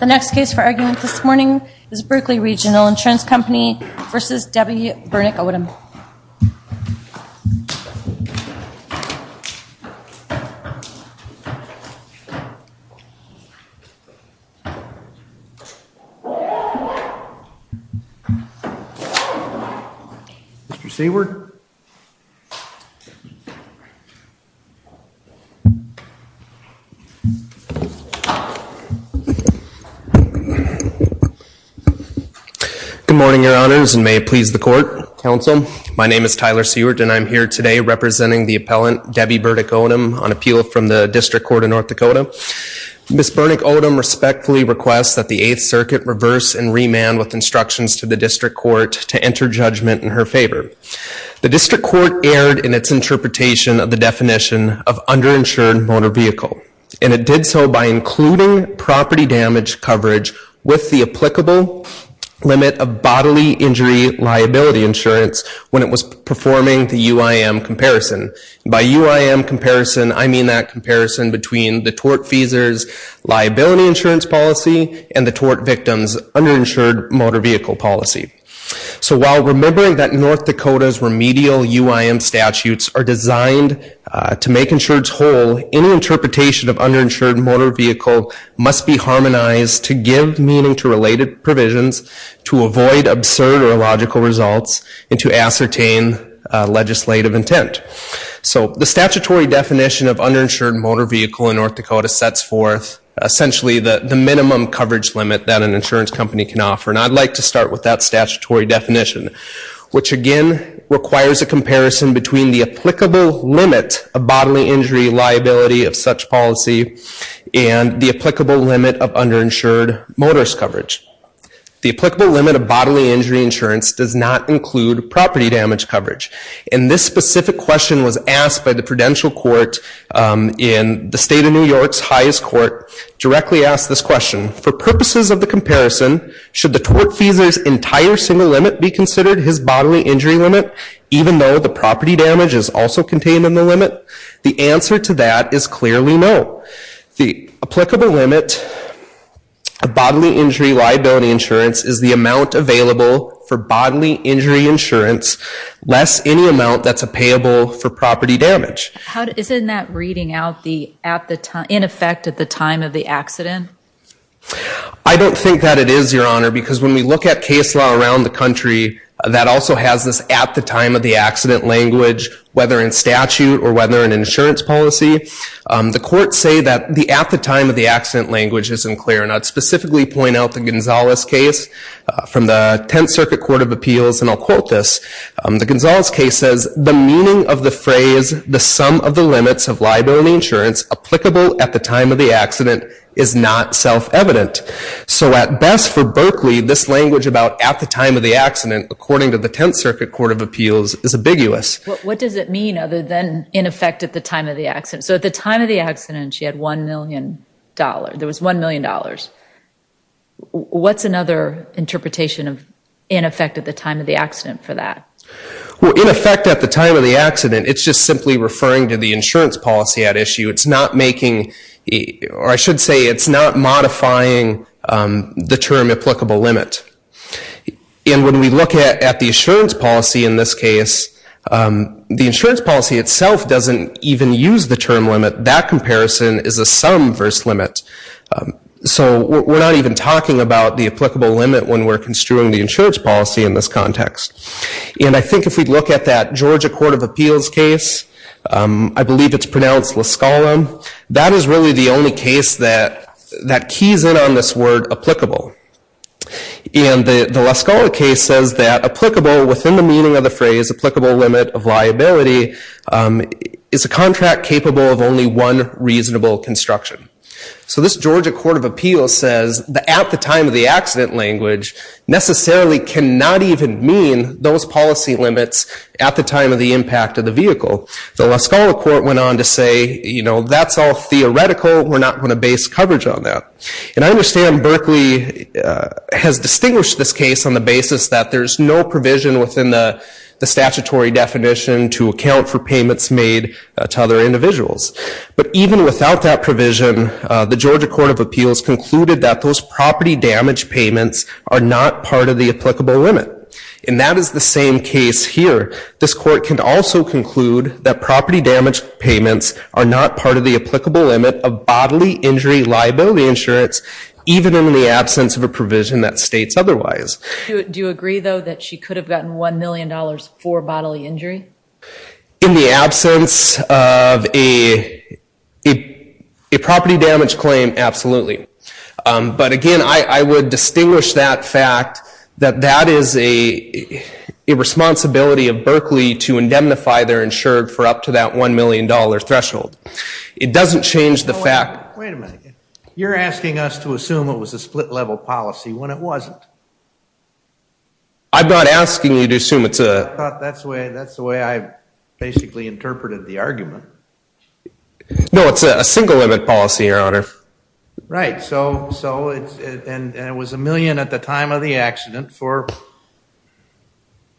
The next case for argument this morning is Berkley Regional Insurance Company v. Debbie Bernick-Odom. Good morning, Your Honors, and may it please the Court, Counsel. My name is Tyler Seward and I'm here today representing the appellant, Debbie Bernick-Odom, on appeal from the District Court of North Dakota. Ms. Bernick-Odom respectfully requests that the Eighth Circuit reverse and remand with instructions to the District Court to enter judgment in her favor. The District Court erred in its interpretation of the definition of underinsured motor vehicle. And it did so by including property damage coverage with the applicable limit of bodily injury liability insurance when it was performing the UIM comparison. By UIM comparison, I mean that comparison between the tort feasor's liability insurance policy and the tort victim's underinsured motor vehicle policy. So while remembering that North Dakota's remedial UIM statutes are designed to make insurance whole, any interpretation of underinsured motor vehicle must be harmonized to give meaning to related provisions, to avoid absurd or illogical results, and to ascertain legislative intent. So the statutory definition of underinsured motor vehicle in North Dakota sets forth essentially the minimum coverage limit that an insurance company can offer. And I'd like to start with that statutory definition, which again requires a comparison between the applicable limit of bodily injury liability of such policy and the applicable limit of underinsured motorist coverage. The applicable limit of bodily injury insurance does not include property damage coverage. And this specific question was asked by the Prudential Court in the state of New York's highest court, directly asked this question. For purposes of the comparison, should the tort feasor's entire single limit be considered his bodily injury limit, even though the property damage is also contained in the limit? The answer to that is clearly no. The applicable limit of bodily injury liability insurance is the amount available for bodily injury insurance, less any amount that's payable for property damage. Isn't that reading out in effect at the time of the accident? I don't think that it is, Your Honor, because when we look at case law around the country, that also has this at-the-time-of-the-accident language, whether in statute or whether in insurance policy. The courts say that the at-the-time-of-the-accident language isn't clear, and I'd specifically point out the Gonzales case from the Tenth Circuit Court of Appeals, and I'll quote this. The Gonzales case says, the meaning of the phrase, the sum of the limits of liability insurance applicable at the time of the accident, is not self-evident. So at best for Berkeley, this language about at-the-time-of-the-accident, according to the Tenth Circuit Court of Appeals, is ambiguous. What does it mean other than in effect at the time of the accident? So at the time of the accident, she had $1 million. There was $1 million. What's another interpretation of in effect at the time of the accident for that? In effect at the time of the accident, it's just simply referring to the insurance policy at issue. It's not making, or I should say, it's not modifying the term applicable limit. And when we look at the insurance policy in this case, the insurance policy itself doesn't even use the term limit. That comparison is a sum versus limit. So we're not even talking about the applicable limit when we're construing the insurance policy in this context. And I think if we look at that Georgia Court of Appeals case, I believe it's pronounced La Scala, that is really the only case that keys in on this word applicable. And the La Scala case says that applicable, within the meaning of the phrase, applicable limit of liability is a contract capable of only one reasonable construction. So this Georgia Court of Appeals says that at the time of the accident language necessarily cannot even mean those policy limits at the time of the impact of the vehicle. The La Scala court went on to say, you know, that's all theoretical. We're not going to base coverage on that. And I understand Berkeley has distinguished this case on the basis that there's no provision within the statutory definition to account for payments made to other individuals. But even without that provision, the Georgia Court of Appeals concluded that those property damage payments are not part of the applicable limit. And that is the same case here. This court can also conclude that property damage payments are not part of the applicable limit of bodily injury liability insurance, even in the absence of a provision that states otherwise. Do you agree, though, that she could have gotten $1 million for bodily injury? In the absence of a property damage claim, absolutely. But again, I would distinguish that fact, that that is a responsibility of Berkeley to indemnify their insured for up to that $1 million threshold. It doesn't change the fact- Wait a minute. You're asking us to assume it was a split-level policy when it wasn't. I'm not asking you to assume it's a- That's the way I basically interpreted the argument. No, it's a single limit policy, Your Honor. Right. And it was $1 million at the time of the accident for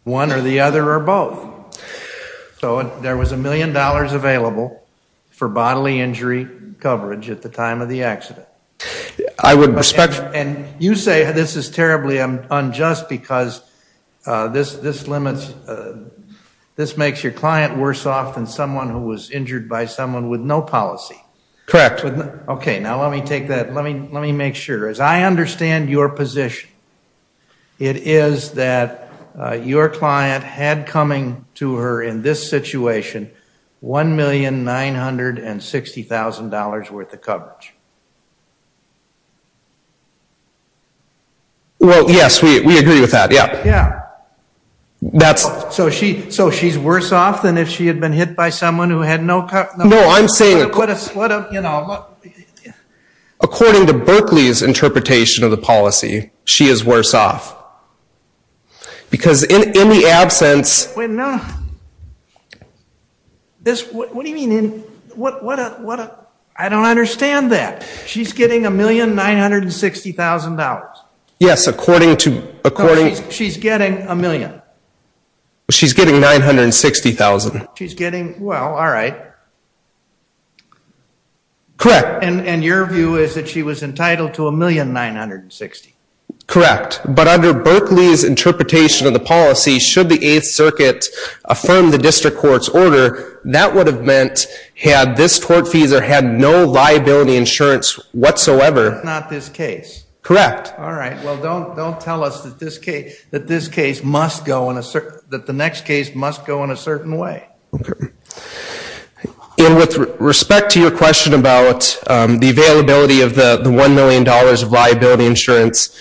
one or the other or both. So there was $1 million available for bodily injury coverage at the time of the accident. I would expect- And you say this is terribly unjust because this limits, this makes your client worse off than someone who was injured by someone with no policy. Correct. Okay, now let me take that. Let me make sure. As I understand your position, it is that your client had coming to her in this situation $1,960,000 worth of coverage. Well, yes, we agree with that, yeah. Yeah. That's- So she's worse off than if she had been hit by someone who had no- No, I'm saying- According to Berkeley's interpretation of the policy, she is worse off. Because in the absence- Wait a minute. What do you mean in- I don't understand that. She's getting $1,960,000. Yes, according to- She's getting $1 million. She's getting $960,000. She's getting- Well, all right. Correct. And your view is that she was entitled to $1,960,000. Correct. But under Berkeley's interpretation of the policy, should the Eighth Circuit affirm the district court's order, that would have meant had this tortfeasor had no liability insurance whatsoever- That's not this case. Correct. All right. Well, don't tell us that this case must go in a certain- that the next case must go in a certain way. Okay. And with respect to your question about the availability of the $1 million of liability insurance,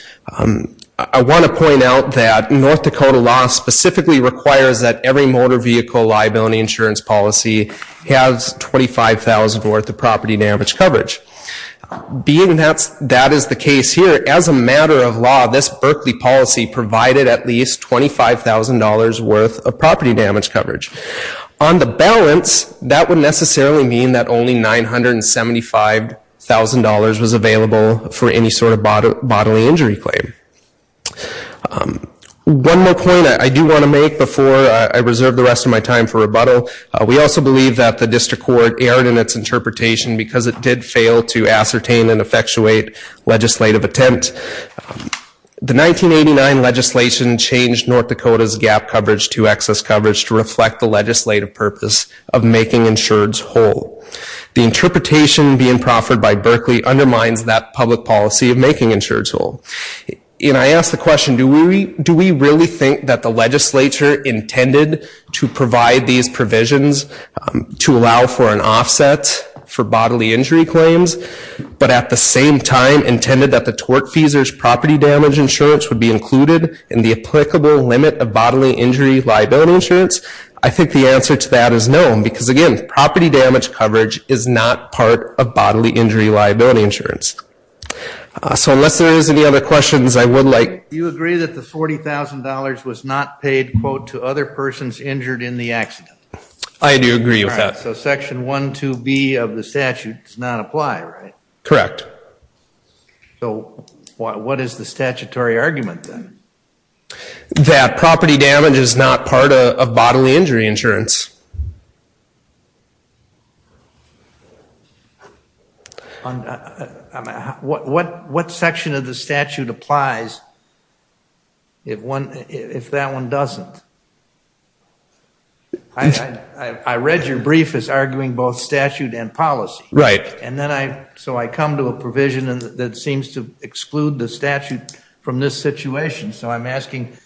I want to point out that North Dakota law specifically requires that every motor vehicle liability insurance policy has $25,000 worth of property damage coverage. Being that that is the case here, as a matter of law, this Berkeley policy provided at least $25,000 worth of property damage coverage. On the balance, that would necessarily mean that only $975,000 was available for any sort of bodily injury claim. One more point I do want to make before I reserve the rest of my time for rebuttal. We also believe that the district court erred in its interpretation because it did fail to ascertain and effectuate legislative attempt. The 1989 legislation changed North Dakota's gap coverage to excess coverage to reflect the legislative purpose of making insureds whole. The interpretation being proffered by Berkeley undermines that public policy of making insureds whole. And I ask the question, do we really think that the legislature intended to provide these provisions to allow for an offset for bodily injury claims, but at the same time intended that the torque fees or property damage insurance would be included in the applicable limit of bodily injury liability insurance? I think the answer to that is no, because again, property damage coverage is not part of bodily injury liability insurance. So unless there is any other questions, I would like- Do you agree that the $40,000 was not paid, quote, to other persons injured in the accident? I do agree with that. All right, so section 1.2.b of the statute does not apply, right? Correct. So what is the statutory argument then? That property damage is not part of bodily injury insurance. What section of the statute applies if that one doesn't? I read your brief as arguing both statute and policy. Right. And then I, so I come to a provision that seems to exclude the statute from this situation. So I'm asking,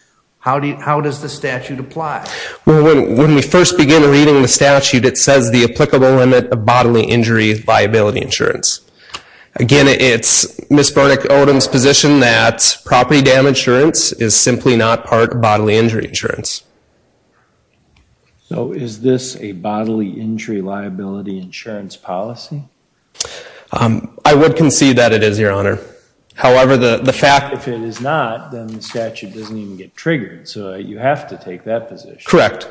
how does the statute apply? Well, when we first begin reading the statute, it says the applicable limit of bodily injury liability insurance. Again, it's Ms. Burnick-Odom's position that property damage insurance is simply not part of bodily injury insurance. So is this a bodily injury liability insurance policy? I would concede that it is, Your Honor. However, the fact- So you have to take that position. Correct.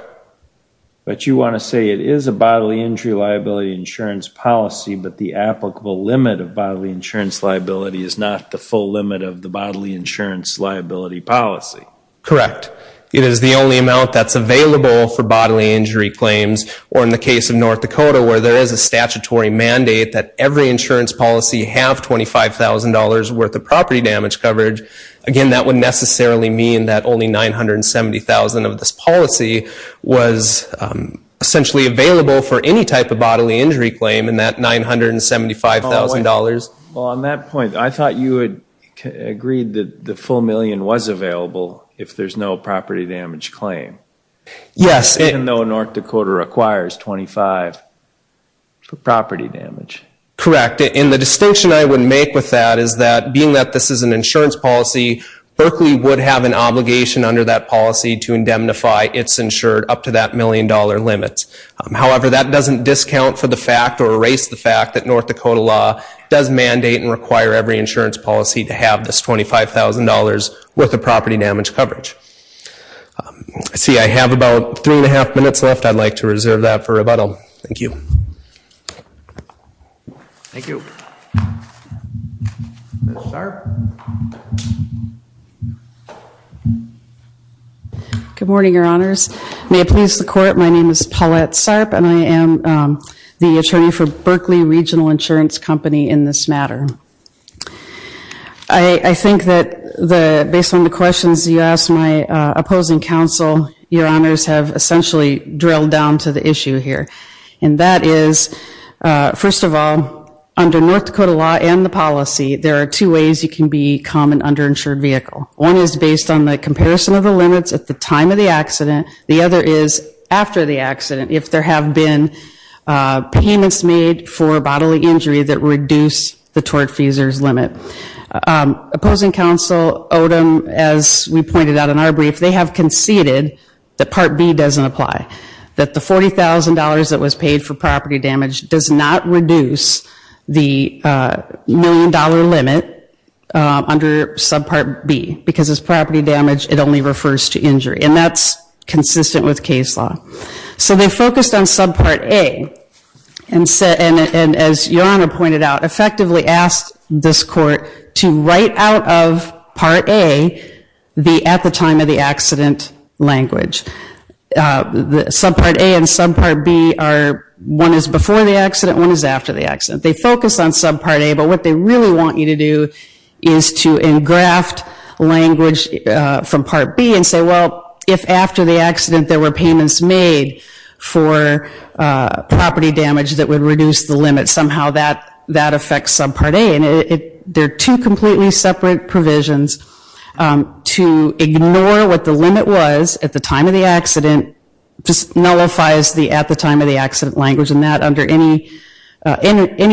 But you want to say it is a bodily injury liability insurance policy, but the applicable limit of bodily insurance liability is not the full limit of the bodily insurance liability policy? Correct. It is the only amount that's available for bodily injury claims, or in the case of North Dakota where there is a statutory mandate that every insurance policy have $25,000 worth of property damage coverage. Again, that would necessarily mean that only $970,000 of this policy was essentially available for any type of bodily injury claim in that $975,000. Well, on that point, I thought you had agreed that the full million was available if there's no property damage claim. Yes. Even though North Dakota requires $25,000 for property damage. Correct. And the distinction I would make with that is that, being that this is an insurance policy, Berkeley would have an obligation under that policy to indemnify its insured up to that million-dollar limit. However, that doesn't discount for the fact or erase the fact that North Dakota law does mandate and require every insurance policy to have this $25,000 worth of property damage coverage. See, I have about three and a half minutes left. I'd like to reserve that for rebuttal. Thank you. Thank you. Ms. Sarp. Good morning, Your Honors. May it please the Court, my name is Paulette Sarp, and I am the attorney for Berkeley Regional Insurance Company in this matter. I think that based on the questions you asked my opposing counsel, Your Honors have essentially drilled down to the issue here. And that is, first of all, under North Dakota law and the policy, there are two ways you can become an underinsured vehicle. One is based on the comparison of the limits at the time of the accident. The other is after the accident, if there have been payments made for bodily injury that reduce the tort fees limit. Opposing counsel Odom, as we pointed out in our brief, they have conceded that Part B doesn't apply, that the $40,000 that was paid for property damage does not reduce the million-dollar limit under Subpart B, because it's property damage, it only refers to injury. And that's consistent with case law. So they focused on Subpart A, and as Your Honor pointed out, effectively asked this Court to write out of Part A the at-the-time-of-the-accident language. Subpart A and Subpart B are, one is before the accident, one is after the accident. They focus on Subpart A, but what they really want you to do is to engraft language from Part B and say, well, if after the accident there were payments made for property damage that would reduce the limit, somehow that affects Subpart A. And they're two completely separate provisions to ignore what the limit was at the time of the accident, just nullifies the at-the-time-of-the-accident language, and that under any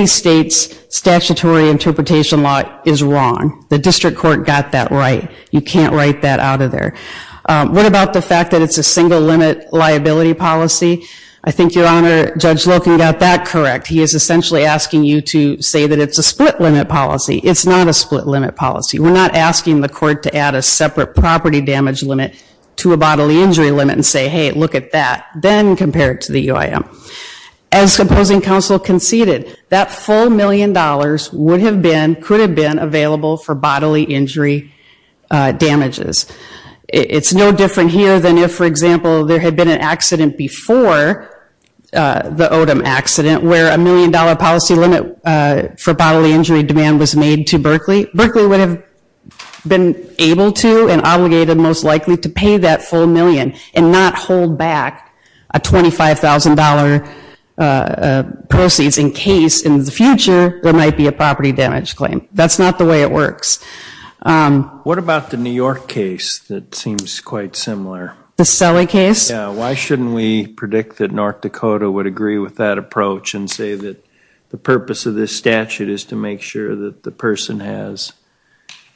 state's statutory interpretation law is wrong. The District Court got that right. You can't write that out of there. What about the fact that it's a single-limit liability policy? I think Your Honor, Judge Loken got that correct. He is essentially asking you to say that it's a split-limit policy. It's not a split-limit policy. We're not asking the court to add a separate property damage limit to a bodily injury limit and say, hey, look at that, then compare it to the UIM. As opposing counsel conceded, that full million dollars would have been, could have been available for bodily injury damages. It's no different here than if, for example, there had been an accident before the Odom accident where a million-dollar policy limit for bodily injury demand was made to Berkeley. Berkeley would have been able to and obligated most likely to pay that full million and not hold back a $25,000 proceeds in case in the future there might be a property damage claim. That's not the way it works. What about the New York case that seems quite similar? The Sully case? Why shouldn't we predict that North Dakota would agree with that approach and say that the purpose of this statute is to make sure that the person has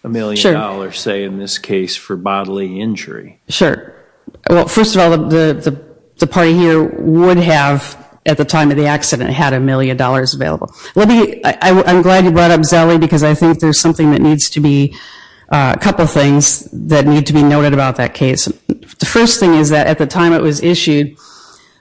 a million dollars, say in this case, for bodily injury? Sure. Well, first of all, the party here would have, at the time of the accident, had a million dollars available. I'm glad you brought up Sully because I think there's something that needs to be, a couple things that need to be noted about that case. The first thing is that at the time it was issued,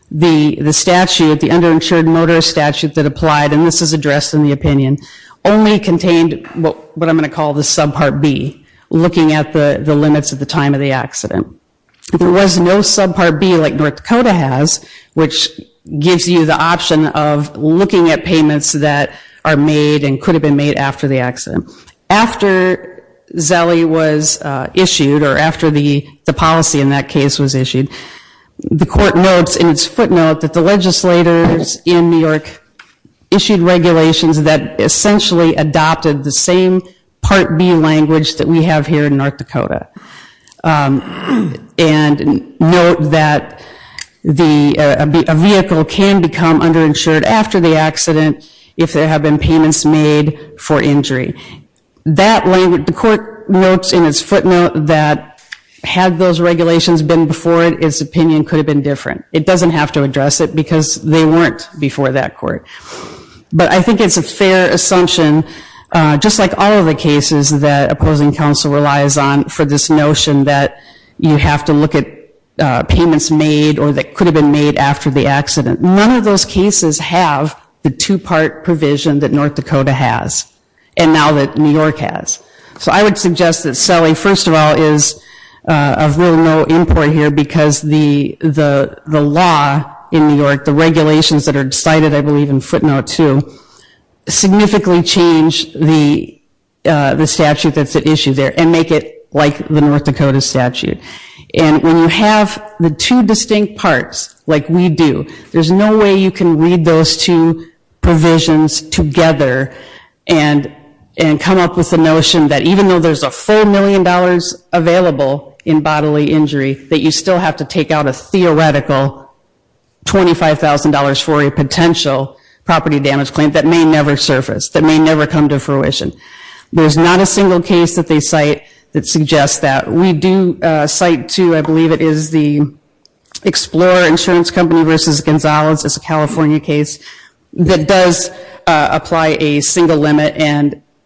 the statute, the underinsured motorist statute that applied, and this is addressed in the opinion, only contained what I'm going to call the subpart B, looking at the limits at the time of the accident. There was no subpart B like North Dakota has, which gives you the option of looking at payments that are made and could have been made after the accident. After Sully was issued or after the policy in that case was issued, the court notes in its footnote that the legislators in New York issued regulations that essentially adopted the same part B language that we have here in North Dakota and note that a vehicle can become underinsured after the accident if there have been payments made for injury. The court notes in its footnote that had those regulations been before it, its opinion could have been different. It doesn't have to address it because they weren't before that court. But I think it's a fair assumption, just like all of the cases that opposing counsel relies on, for this notion that you have to look at payments made or that could have been made after the accident. None of those cases have the two-part provision that North Dakota has and now that New York has. So I would suggest that Sully, first of all, is of no import here because the law in New York, the regulations that are decided, I believe in footnote two, significantly change the statute that's at issue there and make it like the North Dakota statute. And when you have the two distinct parts, like we do, there's no way you can read those two provisions together and come up with the notion that even though there's a full million dollars available in bodily injury, that you still have to take out a theoretical $25,000 for a potential property damage claim that may never surface, that may never come to fruition. There's not a single case that they cite that suggests that. We do cite, too, I believe it is the Explorer Insurance Company versus Gonzalez, it's a California case, that does apply a single limit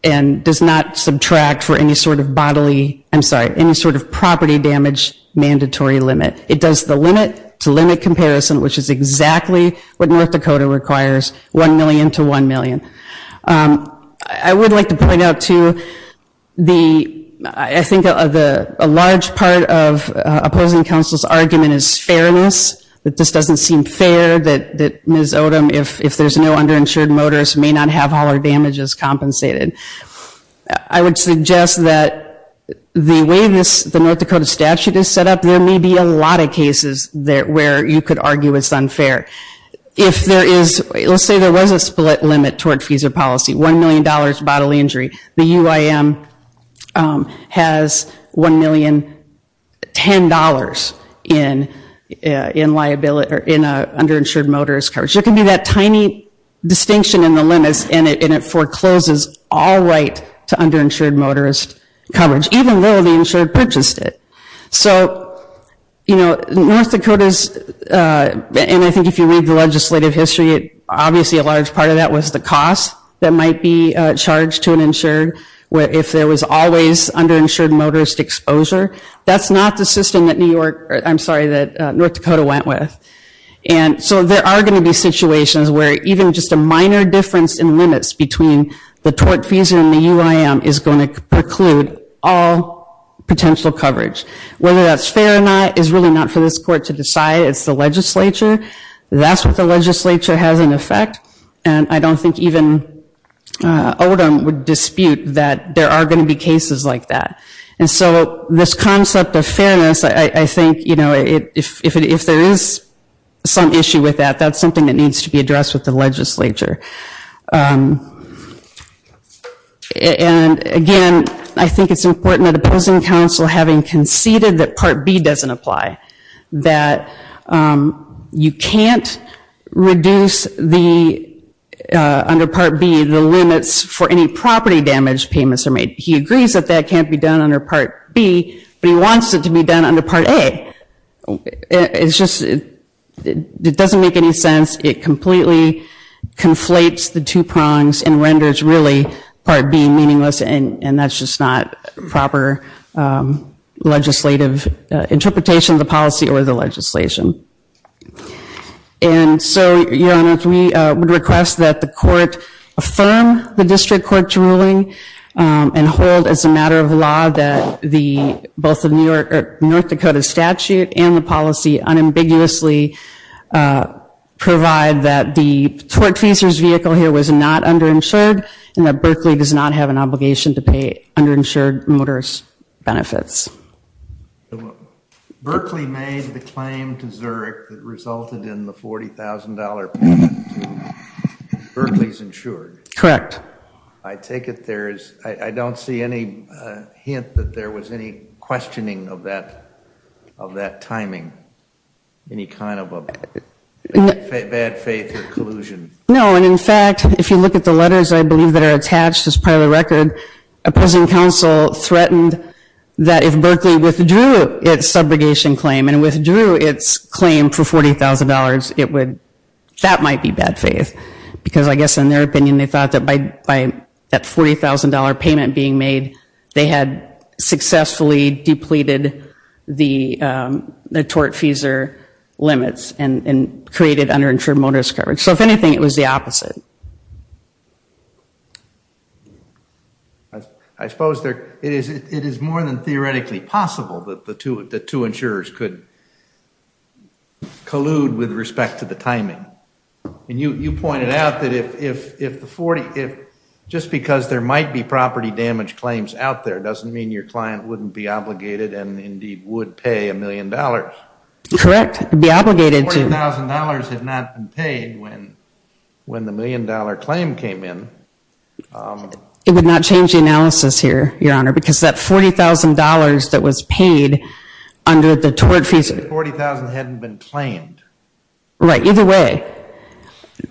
and does not subtract for any sort of bodily, I'm sorry, any sort of property damage mandatory limit. It does the limit to limit comparison, which is exactly what North Dakota requires, one million to one million. I would like to point out, too, I think a large part of opposing counsel's argument is fairness, that this doesn't seem fair that Ms. Odom, if there's no underinsured motorist, may not have all her damages compensated. I would suggest that the way the North Dakota statute is set up, there may be a lot of cases where you could argue it's unfair. If there is, let's say there was a split limit toward FISA policy, $1 million bodily injury, the UIM has $1,010,000 in underinsured motorist coverage. There can be that tiny distinction in the limits and it forecloses all right to underinsured motorist coverage, even though the insured purchased it. So, you know, North Dakota's, and I think if you read the legislative history, obviously a large part of that was the cost that might be charged to an insured, where if there was always underinsured motorist exposure, that's not the system that North Dakota went with. And so there are going to be situations where even just a minor difference in limits between the tort FISA and the UIM is going to preclude all potential coverage. Whether that's fair or not is really not for this court to decide. It's the legislature. That's what the legislature has in effect, and I don't think even Odom would dispute that there are going to be cases like that. And so this concept of fairness, I think, you know, if there is some issue with that, that's something that needs to be addressed with the legislature. And again, I think it's important that opposing counsel, having conceded that Part B doesn't apply, that you can't reduce the, under Part B, the limits for any property damage payments are made. He agrees that that can't be done under Part B, but he wants it to be done under Part A. It's just, it doesn't make any sense. It completely conflates the two prongs and renders really Part B meaningless, and that's just not proper legislative interpretation of the policy or the legislation. And so, Your Honor, we would request that the court affirm the district court's ruling and hold as a matter of law that both the North Dakota statute and the policy unambiguously provide that the tortfeasor's vehicle here was not underinsured and that Berkeley does not have an obligation to pay underinsured motorist benefits. Berkeley made the claim to Zurich that resulted in the $40,000 payment to Berkeley's insured. Correct. I take it there is, I don't see any hint that there was any questioning of that timing, any kind of a bad faith or collusion. No, and in fact, if you look at the letters, I believe that are attached as part of the record, a present counsel threatened that if Berkeley withdrew its subrogation claim and withdrew its claim for $40,000, that might be bad faith. Because I guess in their opinion, they thought that by that $40,000 payment being made, they had successfully depleted the tortfeasor limits and created underinsured motorist coverage. So if anything, it was the opposite. I suppose it is more than theoretically possible that the two insurers could collude with respect to the timing. And you pointed out that if the 40, just because there might be property damage claims out there doesn't mean your client wouldn't be obligated and indeed would pay a million dollars. Correct, be obligated to. $40,000 had not been paid when the million dollar claim came in. It would not change the analysis here, Your Honor, because that $40,000 that was paid under the tortfeasor. $40,000 hadn't been claimed. Right, either way.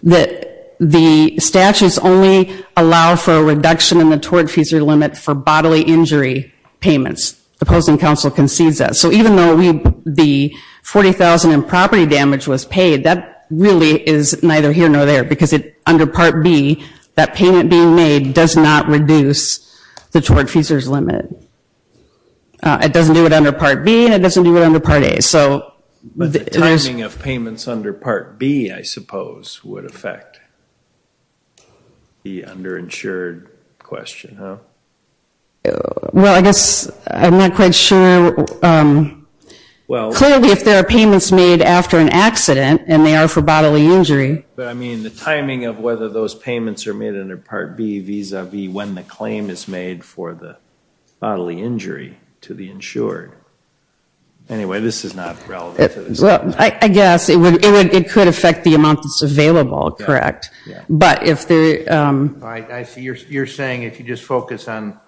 The statutes only allow for a reduction in the tortfeasor limit for bodily injury payments. The Post and Counsel concedes that. So even though the $40,000 in property damage was paid, that really is neither here nor there. Because under Part B, that payment being made does not reduce the tortfeasor's limit. It doesn't do it under Part B, and it doesn't do it under Part A. But the timing of payments under Part B, I suppose, would affect the underinsured question, huh? Well, I guess I'm not quite sure. Clearly if there are payments made after an accident and they are for bodily injury. But I mean the timing of whether those payments are made under Part B vis-a-vis when the claim is made for the bodily injury to the insured. Anyway, this is not relevant to this. Well, I guess it could affect the amount that's available, correct? Yeah. But if the... All right, I see. You're saying if you just focus on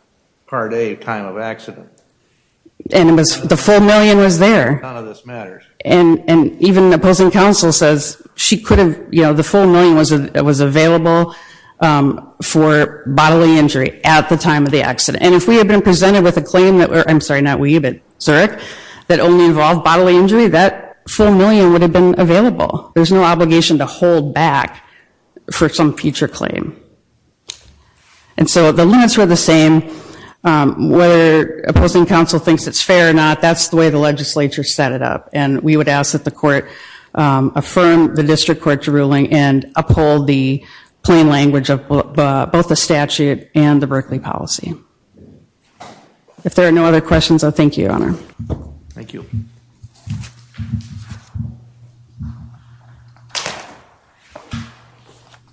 Part A, time of accident. And the full million was there. None of this matters. And even the Post and Counsel says the full million was available for bodily injury at the time of the accident. And if we had been presented with a claim, I'm sorry, not we, but Zurich, that only involved bodily injury, that full million would have been available. There's no obligation to hold back for some future claim. And so the limits were the same. Whether Post and Counsel thinks it's fair or not, that's the way the legislature set it up. And we would ask that the court affirm the district court's ruling and uphold the plain language of both the statute and the Berkeley policy. If there are no other questions, I thank you, Your Honor. Thank you.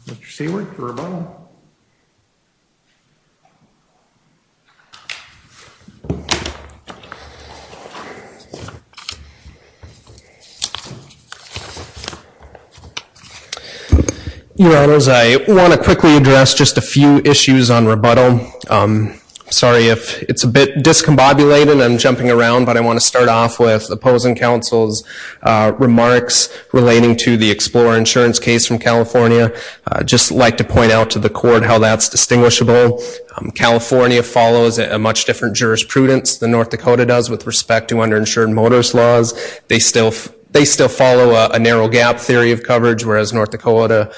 Mr. Seward, rebuttal. Your Honors, I want to quickly address just a few issues on rebuttal. Sorry if it's a bit discombobulated. I'm jumping around, but I want to start off with the Post and Counsel's remarks relating to the Explorer insurance case from California. I'd just like to point out to the court how that's distinguishable. California follows a much different jurisprudence than North Dakota does with respect to underinsured motorist laws. They still follow a narrow gap theory of coverage, whereas North Dakota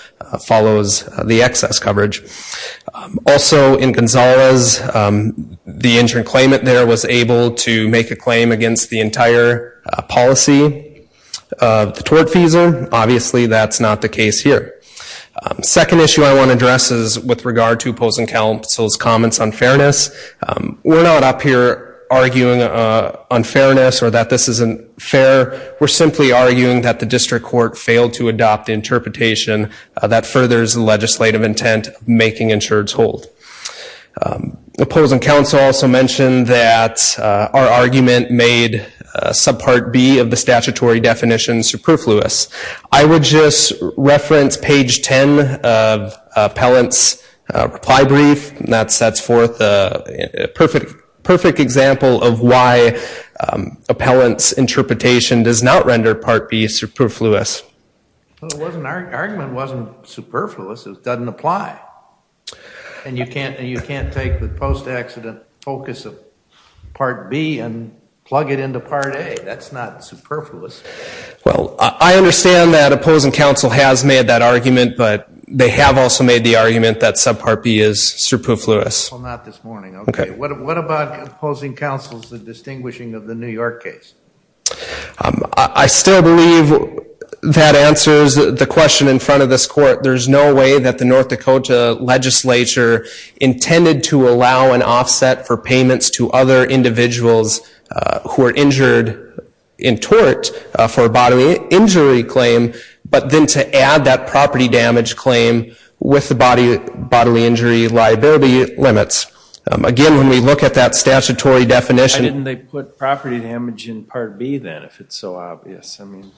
follows the excess coverage. Also, in Gonzalez, the injured claimant there was able to make a claim against the entire policy of the tort fees. Obviously, that's not the case here. Second issue I want to address is with regard to Post and Counsel's comments on fairness. We're not up here arguing unfairness or that this isn't fair. We're simply arguing that the district court failed to adopt the interpretation that furthers legislative intent of making insureds hold. Post and Counsel also mentioned that our argument made subpart B of the statutory definition superfluous. I would just reference page 10 of Appellant's reply brief. That sets forth a perfect example of why Appellant's interpretation does not render part B superfluous. Well, the argument wasn't superfluous. It doesn't apply. And you can't take the post-accident focus of part B and plug it into part A. That's not superfluous. Well, I understand that Opposing Counsel has made that argument, but they have also made the argument that subpart B is superfluous. Well, not this morning. OK. What about Opposing Counsel's distinguishing of the New York case? I still believe that answers the question in front of this court. There's no way that the North Dakota legislature intended to allow an offset for payments to other individuals who are injured in tort for a bodily injury claim, but then to add that property damage claim with the bodily injury liability limits. Again, when we look at that statutory definition... Part B, then, if it's so obvious. I mean,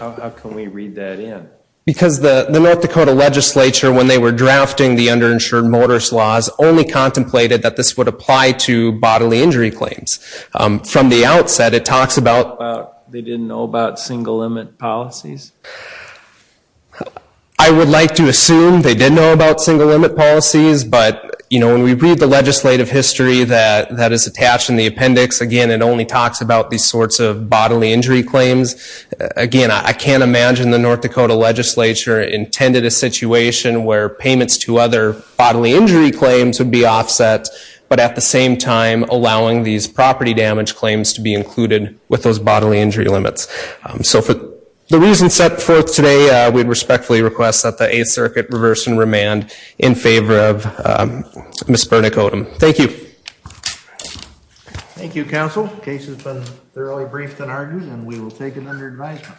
how can we read that in? Because the North Dakota legislature, when they were drafting the underinsured motorist laws, only contemplated that this would apply to bodily injury claims. From the outset, it talks about... They didn't know about single limit policies? I would like to assume they did know about single limit policies, but, you know, when we read the legislative history that is attached in the appendix, again, it only talks about these sorts of bodily injury claims. Again, I can't imagine the North Dakota legislature intended a situation where payments to other bodily injury claims would be offset, but at the same time, allowing these property damage claims to be included with those bodily injury limits. So for the reasons set forth today, we'd respectfully request that the Eighth Circuit reverse and remand in favor of Ms. Burnick-Odom. Thank you. Thank you, Counsel. The case has been thoroughly briefed and argued, and we will take it under advisement.